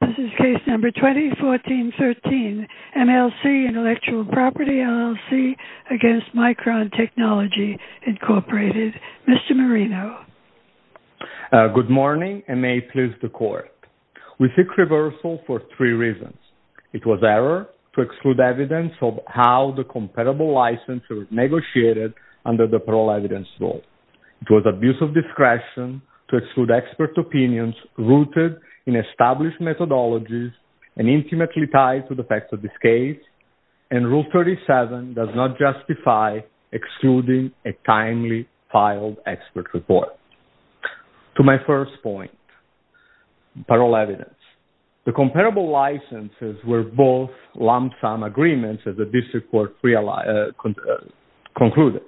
This is case number 2014-13, MLC Intellectual Property LLC v. Micron Technology, Inc. Mr. Marino. Good morning, and may it please the Court. We seek reversal for three reasons. It was error to exclude evidence of how the compatible license was negotiated under the Parole Evidence Rule. It was abuse of discretion to exclude expert opinions rooted in established methodologies and intimately tied to the facts of this case. And Rule 37 does not justify excluding a timely filed expert report. To my first point, Parole Evidence. The comparable licenses were both lump sum agreements that the district court concluded.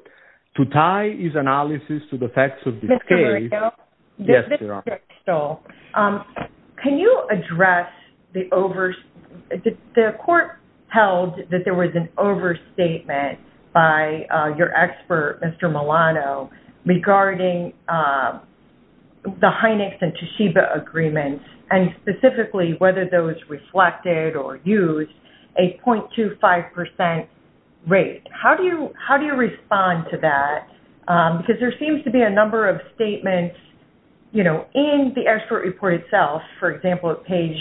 To tie his analysis to the facts of this case... Mr. Marino. Yes, Your Honor. Mr. Stoll, can you address the over... The Court held that there was an overstatement by your expert, Mr. Milano, regarding the Hynex and Toshiba agreements, and specifically whether those reflected or used a 0.25% rate. How do you respond to that? Because there seems to be a number of statements in the expert report itself, for example, at page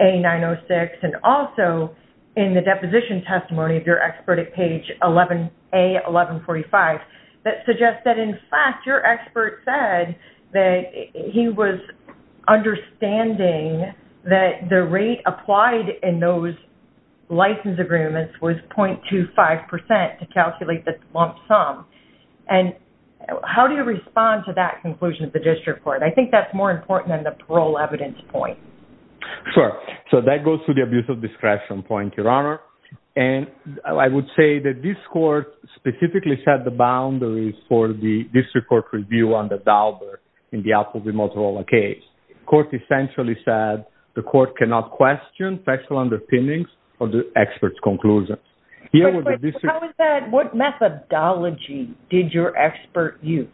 A906, and also in the deposition testimony of your expert at page A1145, that suggest that, in fact, your expert said that he was understanding that the rate applied in those license agreements was 0.25% to calculate the lump sum. And how do you respond to that conclusion of the district court? I think that's more important than the parole evidence point. Sure. So that goes to the abuse of discretion point, Your Honor. And I would say that this court specifically set the boundaries for the district court review on the Dauber in the Apple v. Motorola case. The court essentially said the court cannot question factual underpinnings of the expert's conclusions. What methodology did your expert use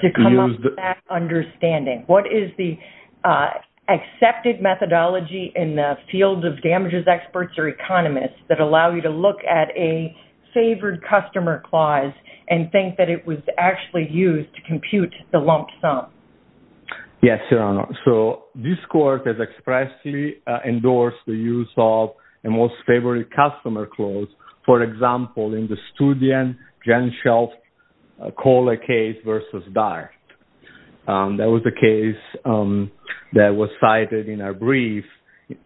to come up with that understanding? What is the accepted methodology in the field of damages experts or economists that allow you to look at a favored customer clause and think that it was actually used to compute the lump sum? Yes, Your Honor. So this court has expressly endorsed the use of a most favored customer clause, for example, in the Studian-Jenschel-Kohler case v. Dyer. That was the case that was cited in our brief.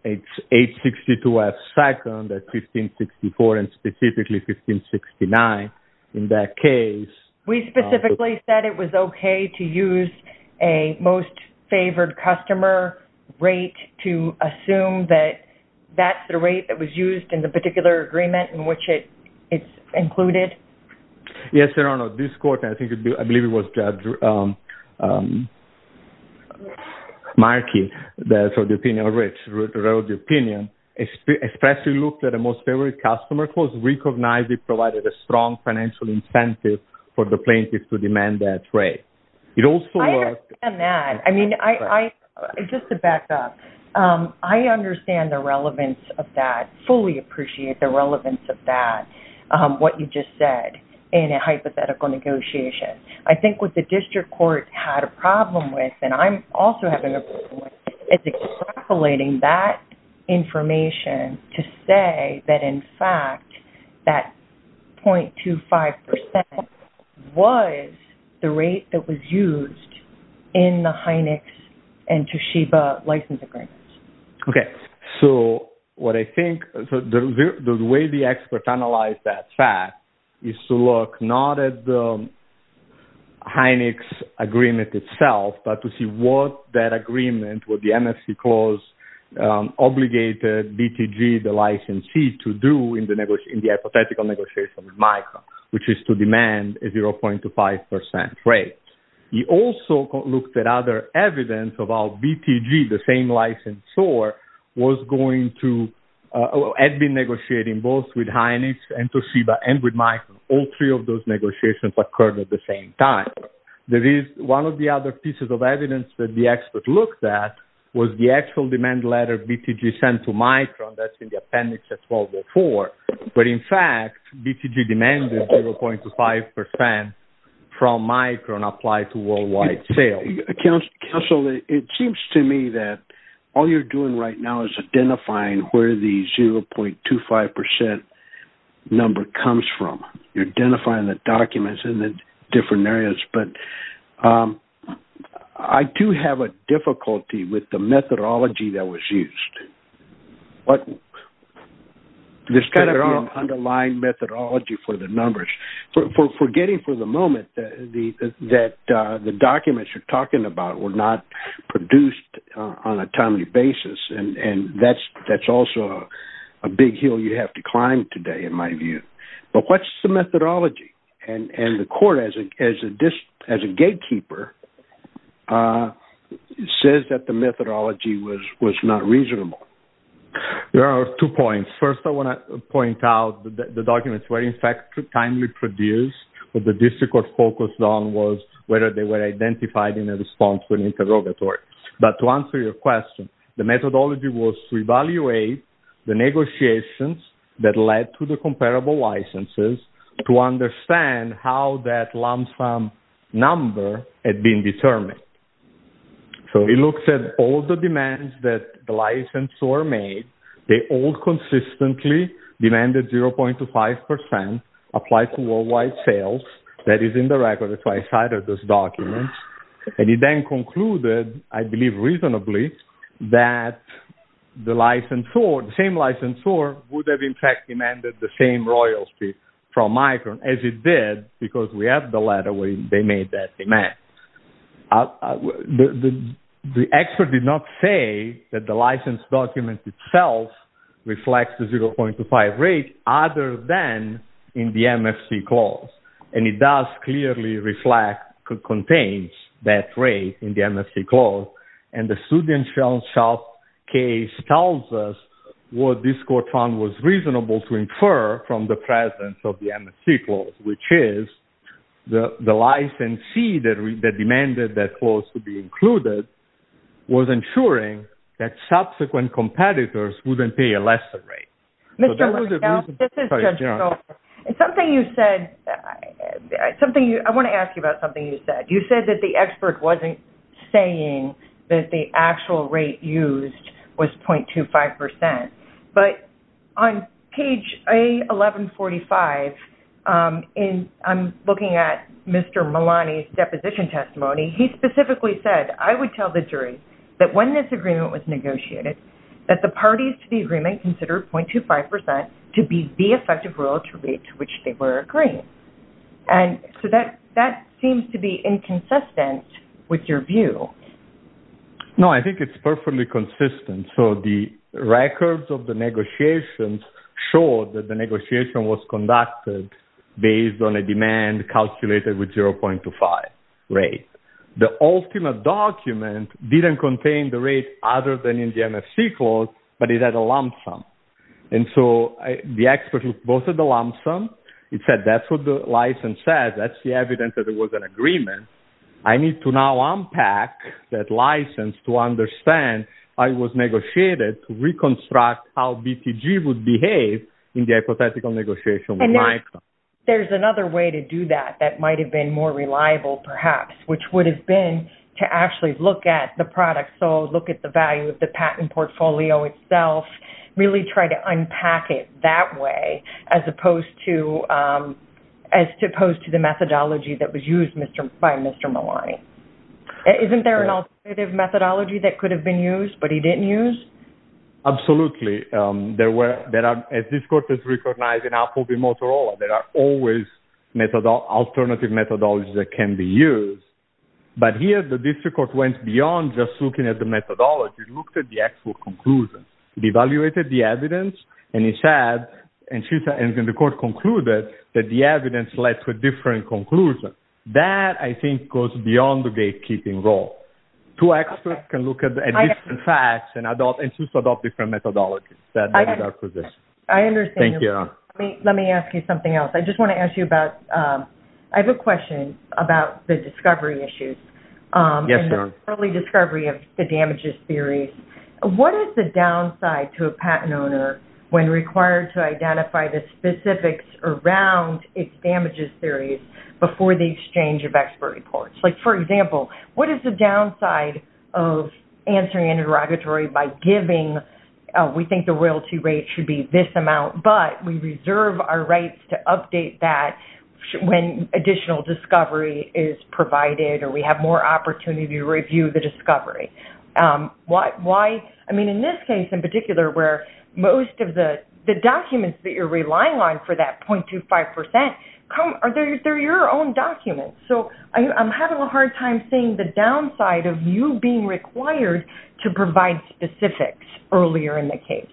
It's 862F2 at 1564 and specifically 1569 in that case. We specifically said it was okay to use a most favored customer rate to assume that that's the rate that was used in the particular agreement in which it's included. Yes, Your Honor. This court, and I believe it was Judge Markey that wrote the opinion, expressly looked at a most favored customer clause, recognized it provided a strong financial incentive for the plaintiff to demand that rate. I understand that. Just to back up, I understand the relevance of that, fully appreciate the relevance of that, what you just said in a hypothetical negotiation. I think what the district court had a problem with, and I'm also having a problem with, is extrapolating that information to say that, in fact, that 0.25% was the rate that was used in the Hynex and Toshiba license agreements. Okay, so what I think, the way the expert analyzed that fact is to look not at the Hynex agreement itself, but to see what that agreement, what the MFC clause obligated BTG, the licensee, to do in the hypothetical negotiation with Micron, which is to demand a 0.25% rate. He also looked at other evidence about BTG, the same licensor, had been negotiating both with Hynex and with Micron. All three of those negotiations occurred at the same time. One of the other pieces of evidence that the expert looked at was the actual demand letter BTG sent to Micron that's in the appendix at 1204. But, in fact, BTG demanded 0.25% from Micron applied to worldwide sales. Counsel, it seems to me that all you're doing right now is identifying where the 0.25% number comes from. You're identifying the documents in the different areas, but I do have a difficulty with the methodology that was used. There's kind of an underlying methodology for the numbers. We're getting for the moment that the documents you're talking about were not produced on a timely basis, and that's also a big hill you have to climb today in my view. But what's the methodology? And the court, as a gatekeeper, says that the methodology was not reasonable. There are two points. First, I want to point out that the documents were, in fact, timely produced, but the district court focused on was whether they were identified in a response to an interrogatory. But to answer your question, the methodology was to evaluate the negotiations that led to the comparable licenses to understand how that lump sum number had been determined. So, it looks at all the demands that the licensor made. They all consistently demanded 0.25% applied to worldwide sales. That is in the record. That's why I cited those documents. And it then concluded, I believe reasonably, that the same licensor would have, in fact, demanded the same royalty from Micron as it did because we have the letter where they made that demand. The expert did not say that the license document itself reflects the 0.25 rate other than in the MFC clause. And it does clearly reflect, contains that rate in the MFC clause. And the student shop case tells us what this court found was reasonable to infer from the presence of the MFC clause, which is the licensee that demanded that clause to be included was ensuring that subsequent competitors wouldn't pay a lesser rate. This is Judge Schultz. Something you said, I want to ask you about something you said. You said that the expert wasn't saying that the actual rate used was 0.25%. But on page A1145, I'm looking at Mr. Malani's deposition testimony. He specifically said, I would tell the jury that when this agreement was negotiated, that the parties to the agreement considered 0.25% to be the effective royalty rate to which they were agreeing. And so that seems to be inconsistent with your view. No, I think it's perfectly consistent. So the records of the negotiations show that the negotiation was conducted based on a demand calculated with 0.25 rate. The ultimate document didn't contain the rate other than in the MFC clause, but it had a lump sum. And so the expert looked both at the lump sum. He said, that's what the license says. That's the evidence that there was an agreement. I need to now unpack that license to understand I was negotiated to reconstruct how BTG would behave in the hypothetical negotiation. And there's another way to do that that might have been more reliable perhaps, which would have been to actually look at the product sold, look at the value of the patent portfolio itself, really try to unpack it that way as opposed to the methodology that was used by Mr. Malani. Isn't there an alternative methodology that could have been used, but he didn't use? Absolutely. As this court has recognized in Apple v. Motorola, there are always alternative methodologies that can be used. But here the district court went beyond just looking at the methodology. It looked at the actual conclusions. It evaluated the evidence, and it said, and the court concluded that the evidence led to a different conclusion. That, I think, goes beyond the gatekeeping role. Two experts can look at different facts and adopt different methodologies. I understand. Thank you. Let me ask you something else. I just want to ask you about, I have a question about the discovery issues. Yes, Your Honor. Early discovery of the damages series. What is the downside to a patent owner when required to identify the specifics around its damages series before the exchange of expert reports? For example, what is the downside of answering an interrogatory by giving, we think the royalty rate should be this amount, but we reserve our rights to update that when additional discovery is provided or we have more opportunity to review the discovery. Why, I mean, in this case in particular where most of the documents that you're relying on for that 0.25 percent, they're your own documents. So I'm having a hard time seeing the downside of you being required to provide specifics earlier in the case.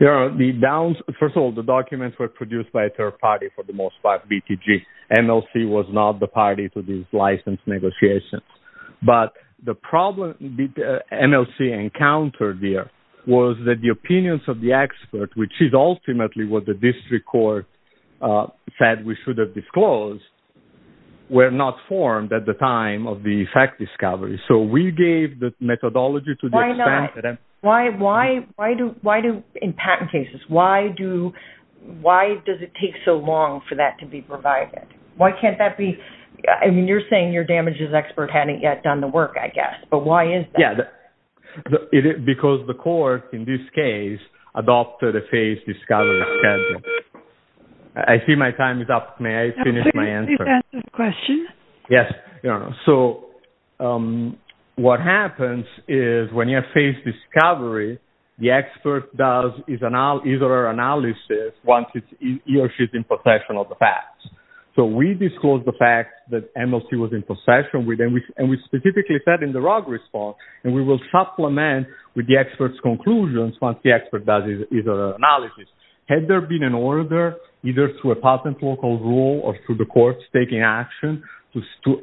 Your Honor, first of all, the documents were produced by a third party for the most part, BTG. MLC was not the party to these license negotiations. But the problem that MLC encountered there was that the opinions of the expert, which is ultimately what the district court said we should have disclosed, were not formed at the time of the fact discovery. So we gave the methodology to the extent that… Why do, in patent cases, why does it take so long for that to be provided? Why can't that be, I mean, you're saying your damages expert hadn't yet done the work, I guess. But why is that? Yeah, because the court in this case adopted a face discovery schedule. I see my time is up. May I finish my answer? Please answer the question. Yes, Your Honor. So what happens is when you have face discovery, the expert does his or her analysis once he or she is in possession of the facts. So we disclosed the fact that MLC was in possession, and we specifically said in the ROG response, and we will supplement with the expert's conclusions once the expert does his or her analysis. Had there been an order, either through a patent law called rule or through the courts taking action, to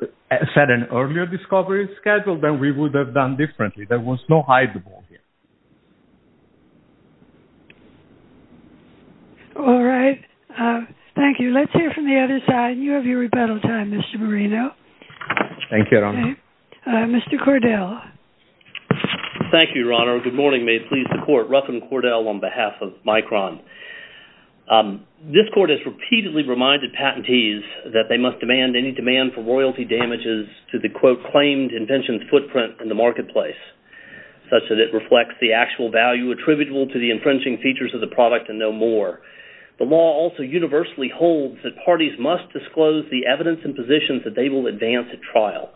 set an earlier discovery schedule, then we would have done differently. There was no hide-the-ball here. All right. Thank you. Let's hear from the other side. You have your rebuttal time, Mr. Marino. Thank you, Your Honor. Mr. Cordell. Thank you, Your Honor. Good morning. May it please the court. Ruffin Cordell on behalf of Micron. This court has repeatedly reminded patentees that they must demand any demand for royalty damages to the, quote, claimed invention's footprint in the marketplace, such that it reflects the actual value attributable to the infringing features of the product and no more. The law also universally holds that parties must disclose the evidence and positions that they will advance at trial.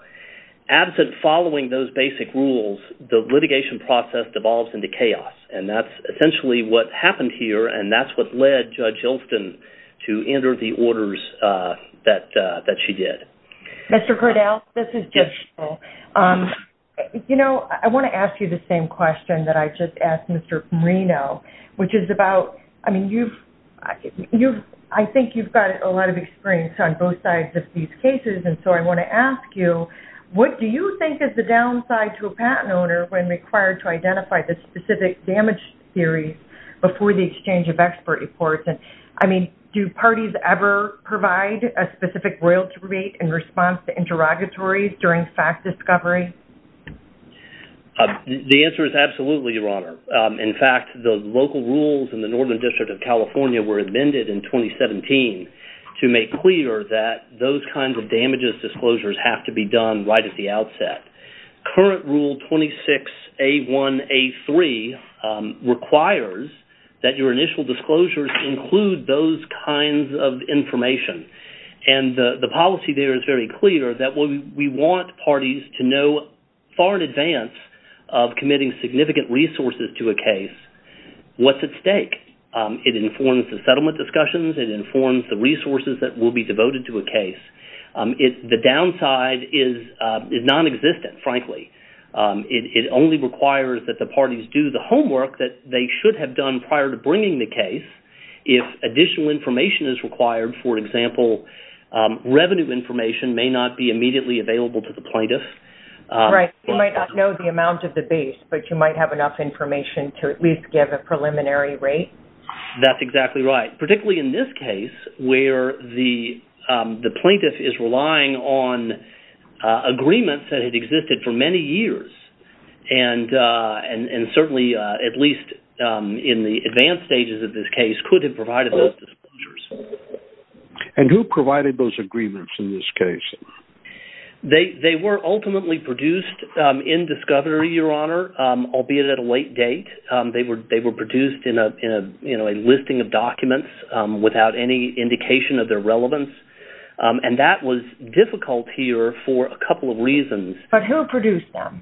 Absent following those basic rules, the litigation process devolves into chaos, and that's essentially what happened here, and that's what led Judge Olson to enter the orders that she did. Mr. Cordell, this is Judge Olson. You know, I want to ask you the same question that I just asked Mr. Marino, which is about, I mean, I think you've got a lot of experience on both sides of these cases, and so I want to ask you, what do you think is the downside to a patent owner when required to identify the specific damage theories before the exchange of expert reports? I mean, do parties ever provide a specific royalty rate in response to interrogatories during fact discovery? The answer is absolutely, Your Honor. In fact, the local rules in the Northern District of California were amended in 2017 to make clear that those kinds of damages disclosures have to be done right at the outset. Current Rule 26A1A3 requires that your initial disclosures include those kinds of information, and the policy there is very clear that we want parties to know far in advance of committing significant resources to a case what's at stake. It informs the settlement discussions. It informs the resources that will be devoted to a case. The downside is nonexistent, frankly. It only requires that the parties do the homework that they should have done prior to bringing the case. If additional information is required, for example, revenue information may not be immediately available to the plaintiff. Right. You might not know the amount of the base, but you might have enough information to at least give a preliminary rate. That's exactly right. Particularly in this case where the plaintiff is relying on agreements that had existed for many years, and certainly at least in the advanced stages of this case could have provided those disclosures. And who provided those agreements in this case? They were ultimately produced in discovery, Your Honor, albeit at a late date. They were produced in a listing of documents without any indication of their relevance, and that was difficult here for a couple of reasons. But who produced them?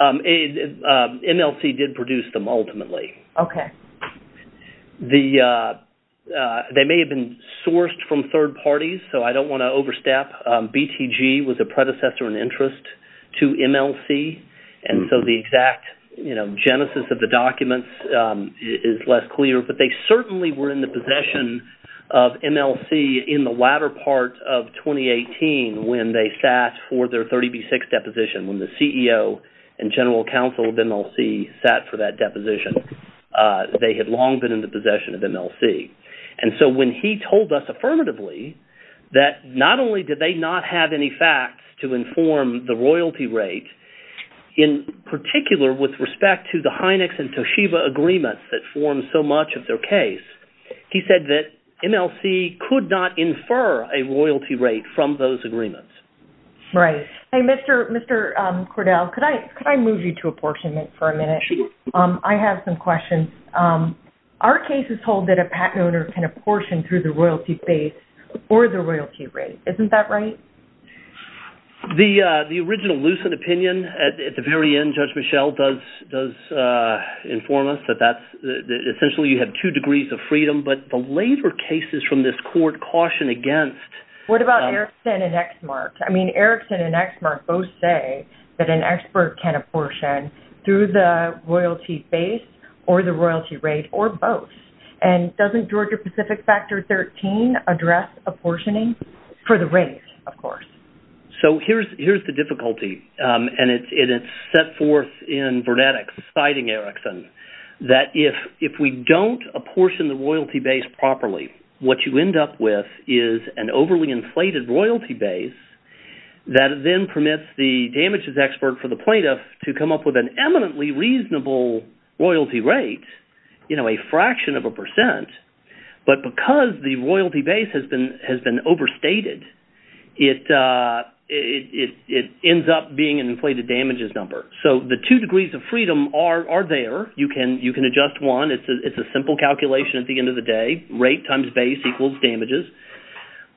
MLC did produce them ultimately. Okay. They may have been sourced from third parties, so I don't want to overstep. BTG was a predecessor in interest to MLC, and so the exact genesis of the documents is less clear. But they certainly were in the possession of MLC in the latter part of 2018 when they sat for their 30B6 deposition, when the CEO and general counsel of MLC sat for that deposition. They had long been in the possession of MLC. And so when he told us affirmatively that not only did they not have any facts to inform the royalty rate, in particular with respect to the Hynex and Toshiba agreements that formed so much of their case, he said that MLC could not infer a royalty rate from those agreements. Right. Mr. Cordell, could I move you to apportionment for a minute? Sure. I have some questions. Our case is told that a patent owner can apportion through the royalty base or the royalty rate. Isn't that right? The original Lucent opinion at the very end, Judge Michelle, does inform us that essentially you have two degrees of freedom. But the later cases from this court caution against... What about Erickson and Exmark? I mean, Erickson and Exmark both say that an expert can apportion through the royalty base or the royalty rate, or both. And doesn't Georgia-Pacific Factor 13 address apportioning for the rate, of course? So here's the difficulty. And it's set forth in Vernetics, citing Erickson, that if we don't apportion the royalty base properly, what you end up with is an overly inflated royalty base that then permits the damages expert for the plaintiff to come up with an eminently reasonable royalty rate, you know, a fraction of a percent. But because the royalty base has been overstated, it ends up being an inflated damages number. So the two degrees of freedom are there. You can adjust one. It's a simple calculation at the end of the day. Rate times base equals damages.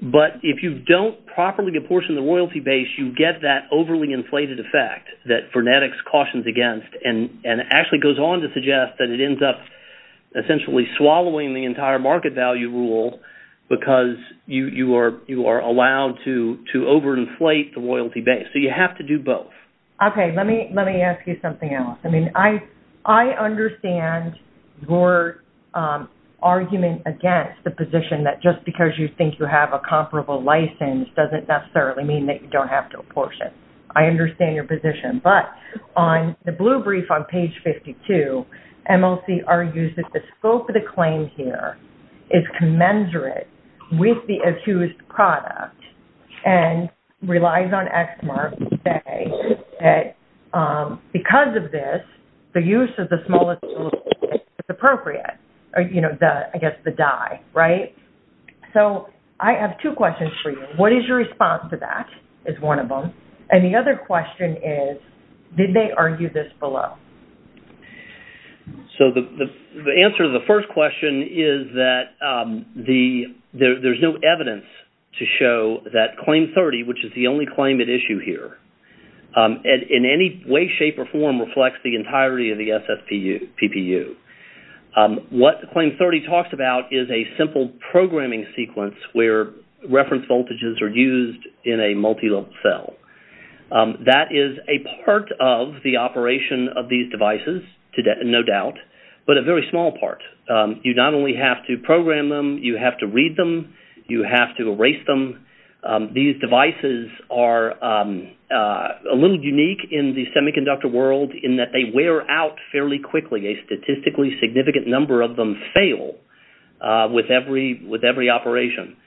But if you don't properly apportion the royalty base, you get that overly inflated effect that Vernetics cautions against, and actually goes on to suggest that it ends up essentially swallowing the entire market value rule because you are allowed to overinflate the royalty base. So you have to do both. Okay, let me ask you something else. I mean, I understand your argument against the position that just because you think you have a comparable license doesn't necessarily mean that you don't have to apportion. I understand your position. But on the blue brief on page 52, MLC argues that the scope of the claim here is commensurate with the accused product and relies on ExMARC to say that because of this, the use of the smallest rule is appropriate. I guess the die, right? So I have two questions for you. What is your response to that is one of them. And the other question is, did they argue this below? So the answer to the first question is that there's no evidence to show that Claim 30, which is the only claim at issue here, in any way, shape, or form reflects the entirety of the SSPPU. What Claim 30 talks about is a simple programming sequence where reference voltages are used in a multilevel cell. That is a part of the operation of these devices, no doubt, but a very small part. You not only have to program them, you have to read them, you have to erase them. These devices are a little unique in the semiconductor world in that they wear out fairly quickly. A statistically significant number of them fail with every operation.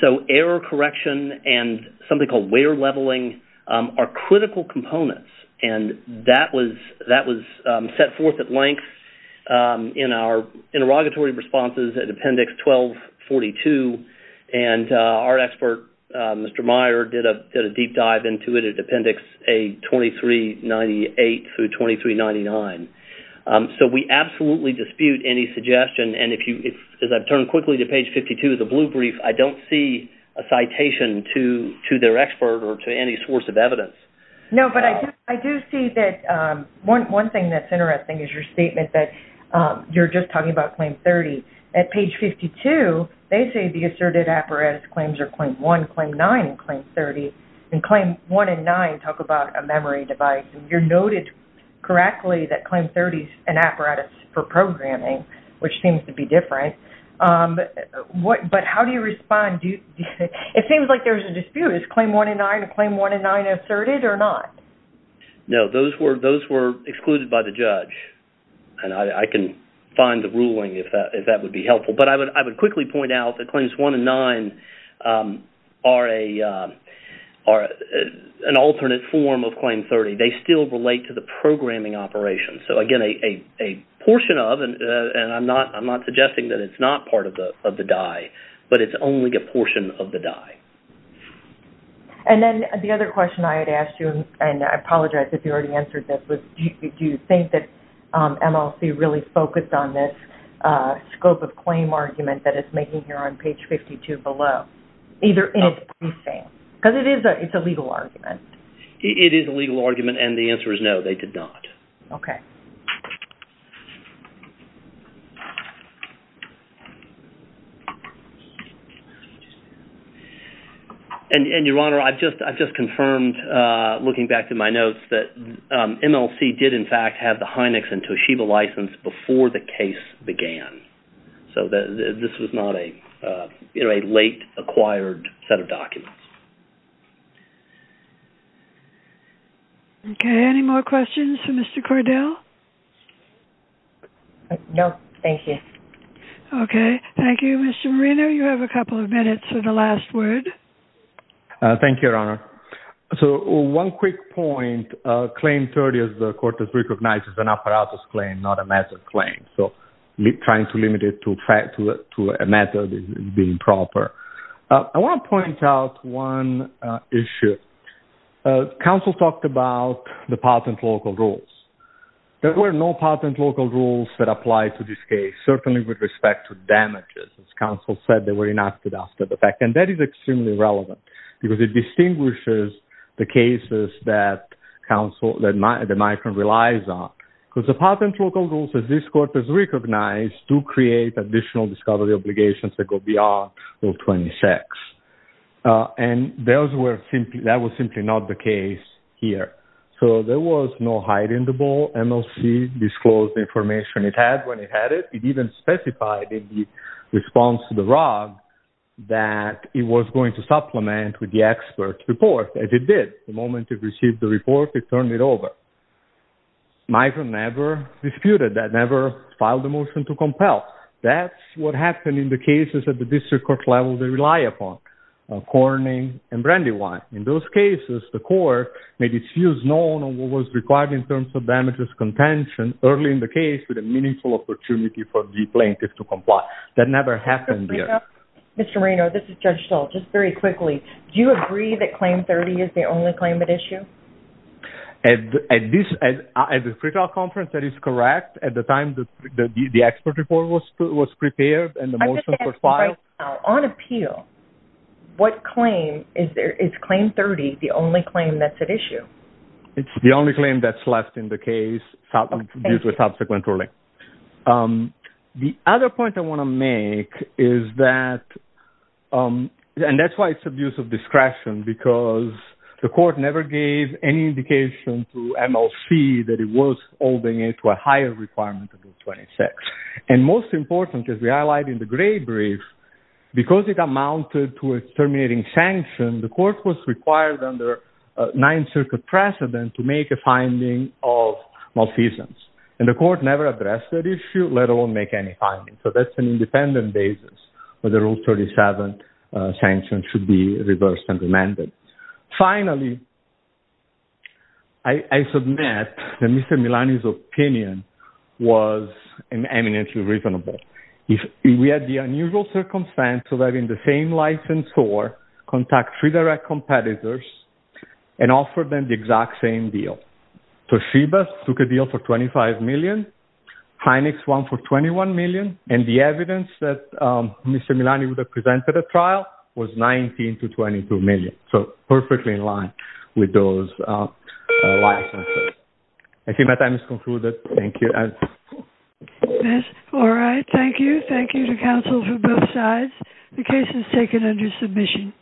So error correction and something called wear leveling are critical components. That was set forth at length in our interrogatory responses at Appendix 1242. Our expert, Mr. Meyer, did a deep dive into it at Appendix A2398 through 2399. So we absolutely dispute any suggestion. As I've turned quickly to Page 52, the blue brief, I don't see a citation to their expert or to any source of evidence. No, but I do see that one thing that's interesting is your statement that you're just talking about Claim 30. At Page 52, they say the asserted apparatus claims are Claim 1, Claim 9, and Claim 30. And Claim 1 and 9 talk about a memory device. You noted correctly that Claim 30 is an apparatus for programming, which seems to be different. But how do you respond? It seems like there's a dispute. Is Claim 1 and 9 a Claim 1 and 9 asserted or not? No, those were excluded by the judge. And I can find the ruling if that would be helpful. But I would quickly point out that Claims 1 and 9 are an alternate form of Claim 30. They still relate to the programming operation. So, again, a portion of, and I'm not suggesting that it's not part of the die, but it's only a portion of the die. And then the other question I had asked you, and I apologize if you already answered this, was do you think that MLC really focused on this scope of claim argument that it's making here on Page 52 below? And it's pretty fair, because it is a legal argument. It is a legal argument, and the answer is no, they did not. Okay. And, Your Honor, I've just confirmed, looking back through my notes, that MLC did, in fact, have the Hynex and Toshiba license before the case began. So this was not a late acquired set of documents. Okay, any more questions for Mr. Cordell? No, thank you. Okay, thank you. Mr. Marino, you have a couple of minutes for the last word. Thank you, Your Honor. So one quick point. Claim 30, as the Court has recognized, is an apparatus claim, not a method claim. So trying to limit it to a method is improper. I want to point out one issue. Counsel talked about the patent local rules. There were no patent local rules that apply to this case, certainly with respect to damages. As counsel said, they were enacted after the fact. And that is extremely relevant, because it distinguishes the cases that the Micron relies on. Because the patent local rules, as this Court has recognized, do create additional discovery obligations that go beyond Rule 26. And that was simply not the case here. So there was no hiding the ball. MLC disclosed the information it had when it had it. It even specified in the response to the ROG that it was going to supplement with the expert's report. And it did. The moment it received the report, it turned it over. Micron never disputed that. It never filed a motion to compel. That's what happened in the cases at the district court level they rely upon, Corning and Brandywine. In those cases, the Court made its views known on what was required in terms of damages contention early in the case with a meaningful opportunity for the plaintiff to comply. That never happened here. Mr. Marino, this is Judge Stoll. Just very quickly, do you agree that Claim 30 is the only claim at issue? At the free trial conference, that is correct. At the time the expert report was prepared and the motion was filed. On appeal, is Claim 30 the only claim that's at issue? It's the only claim that's left in the case due to a subsequent ruling. The other point I want to make is that, and that's why it's abuse of discretion, because the Court never gave any indication to MLC that it was holding it to a higher requirement than Rule 26. And most important, as we highlighted in the gray brief, because it amounted to a terminating sanction, the Court was required under Ninth Circuit precedent to make a finding of malfeasance. And the Court never addressed that issue, let alone make any findings. So that's an independent basis where the Rule 37 sanction should be reversed and remanded. Finally, I submit that Mr. Milani's opinion was eminently reasonable. We had the unusual circumstance of having the same licensor contact three direct competitors and offer them the exact same deal. Toshiba took a deal for $25 million, Hynex won for $21 million, and the evidence that Mr. Milani would have presented at trial was $19 to $22 million. So, perfectly in line with those licenses. I think my time is concluded. Thank you. All right. Thank you. Thank you to counsel for both sides. The case is taken under submission.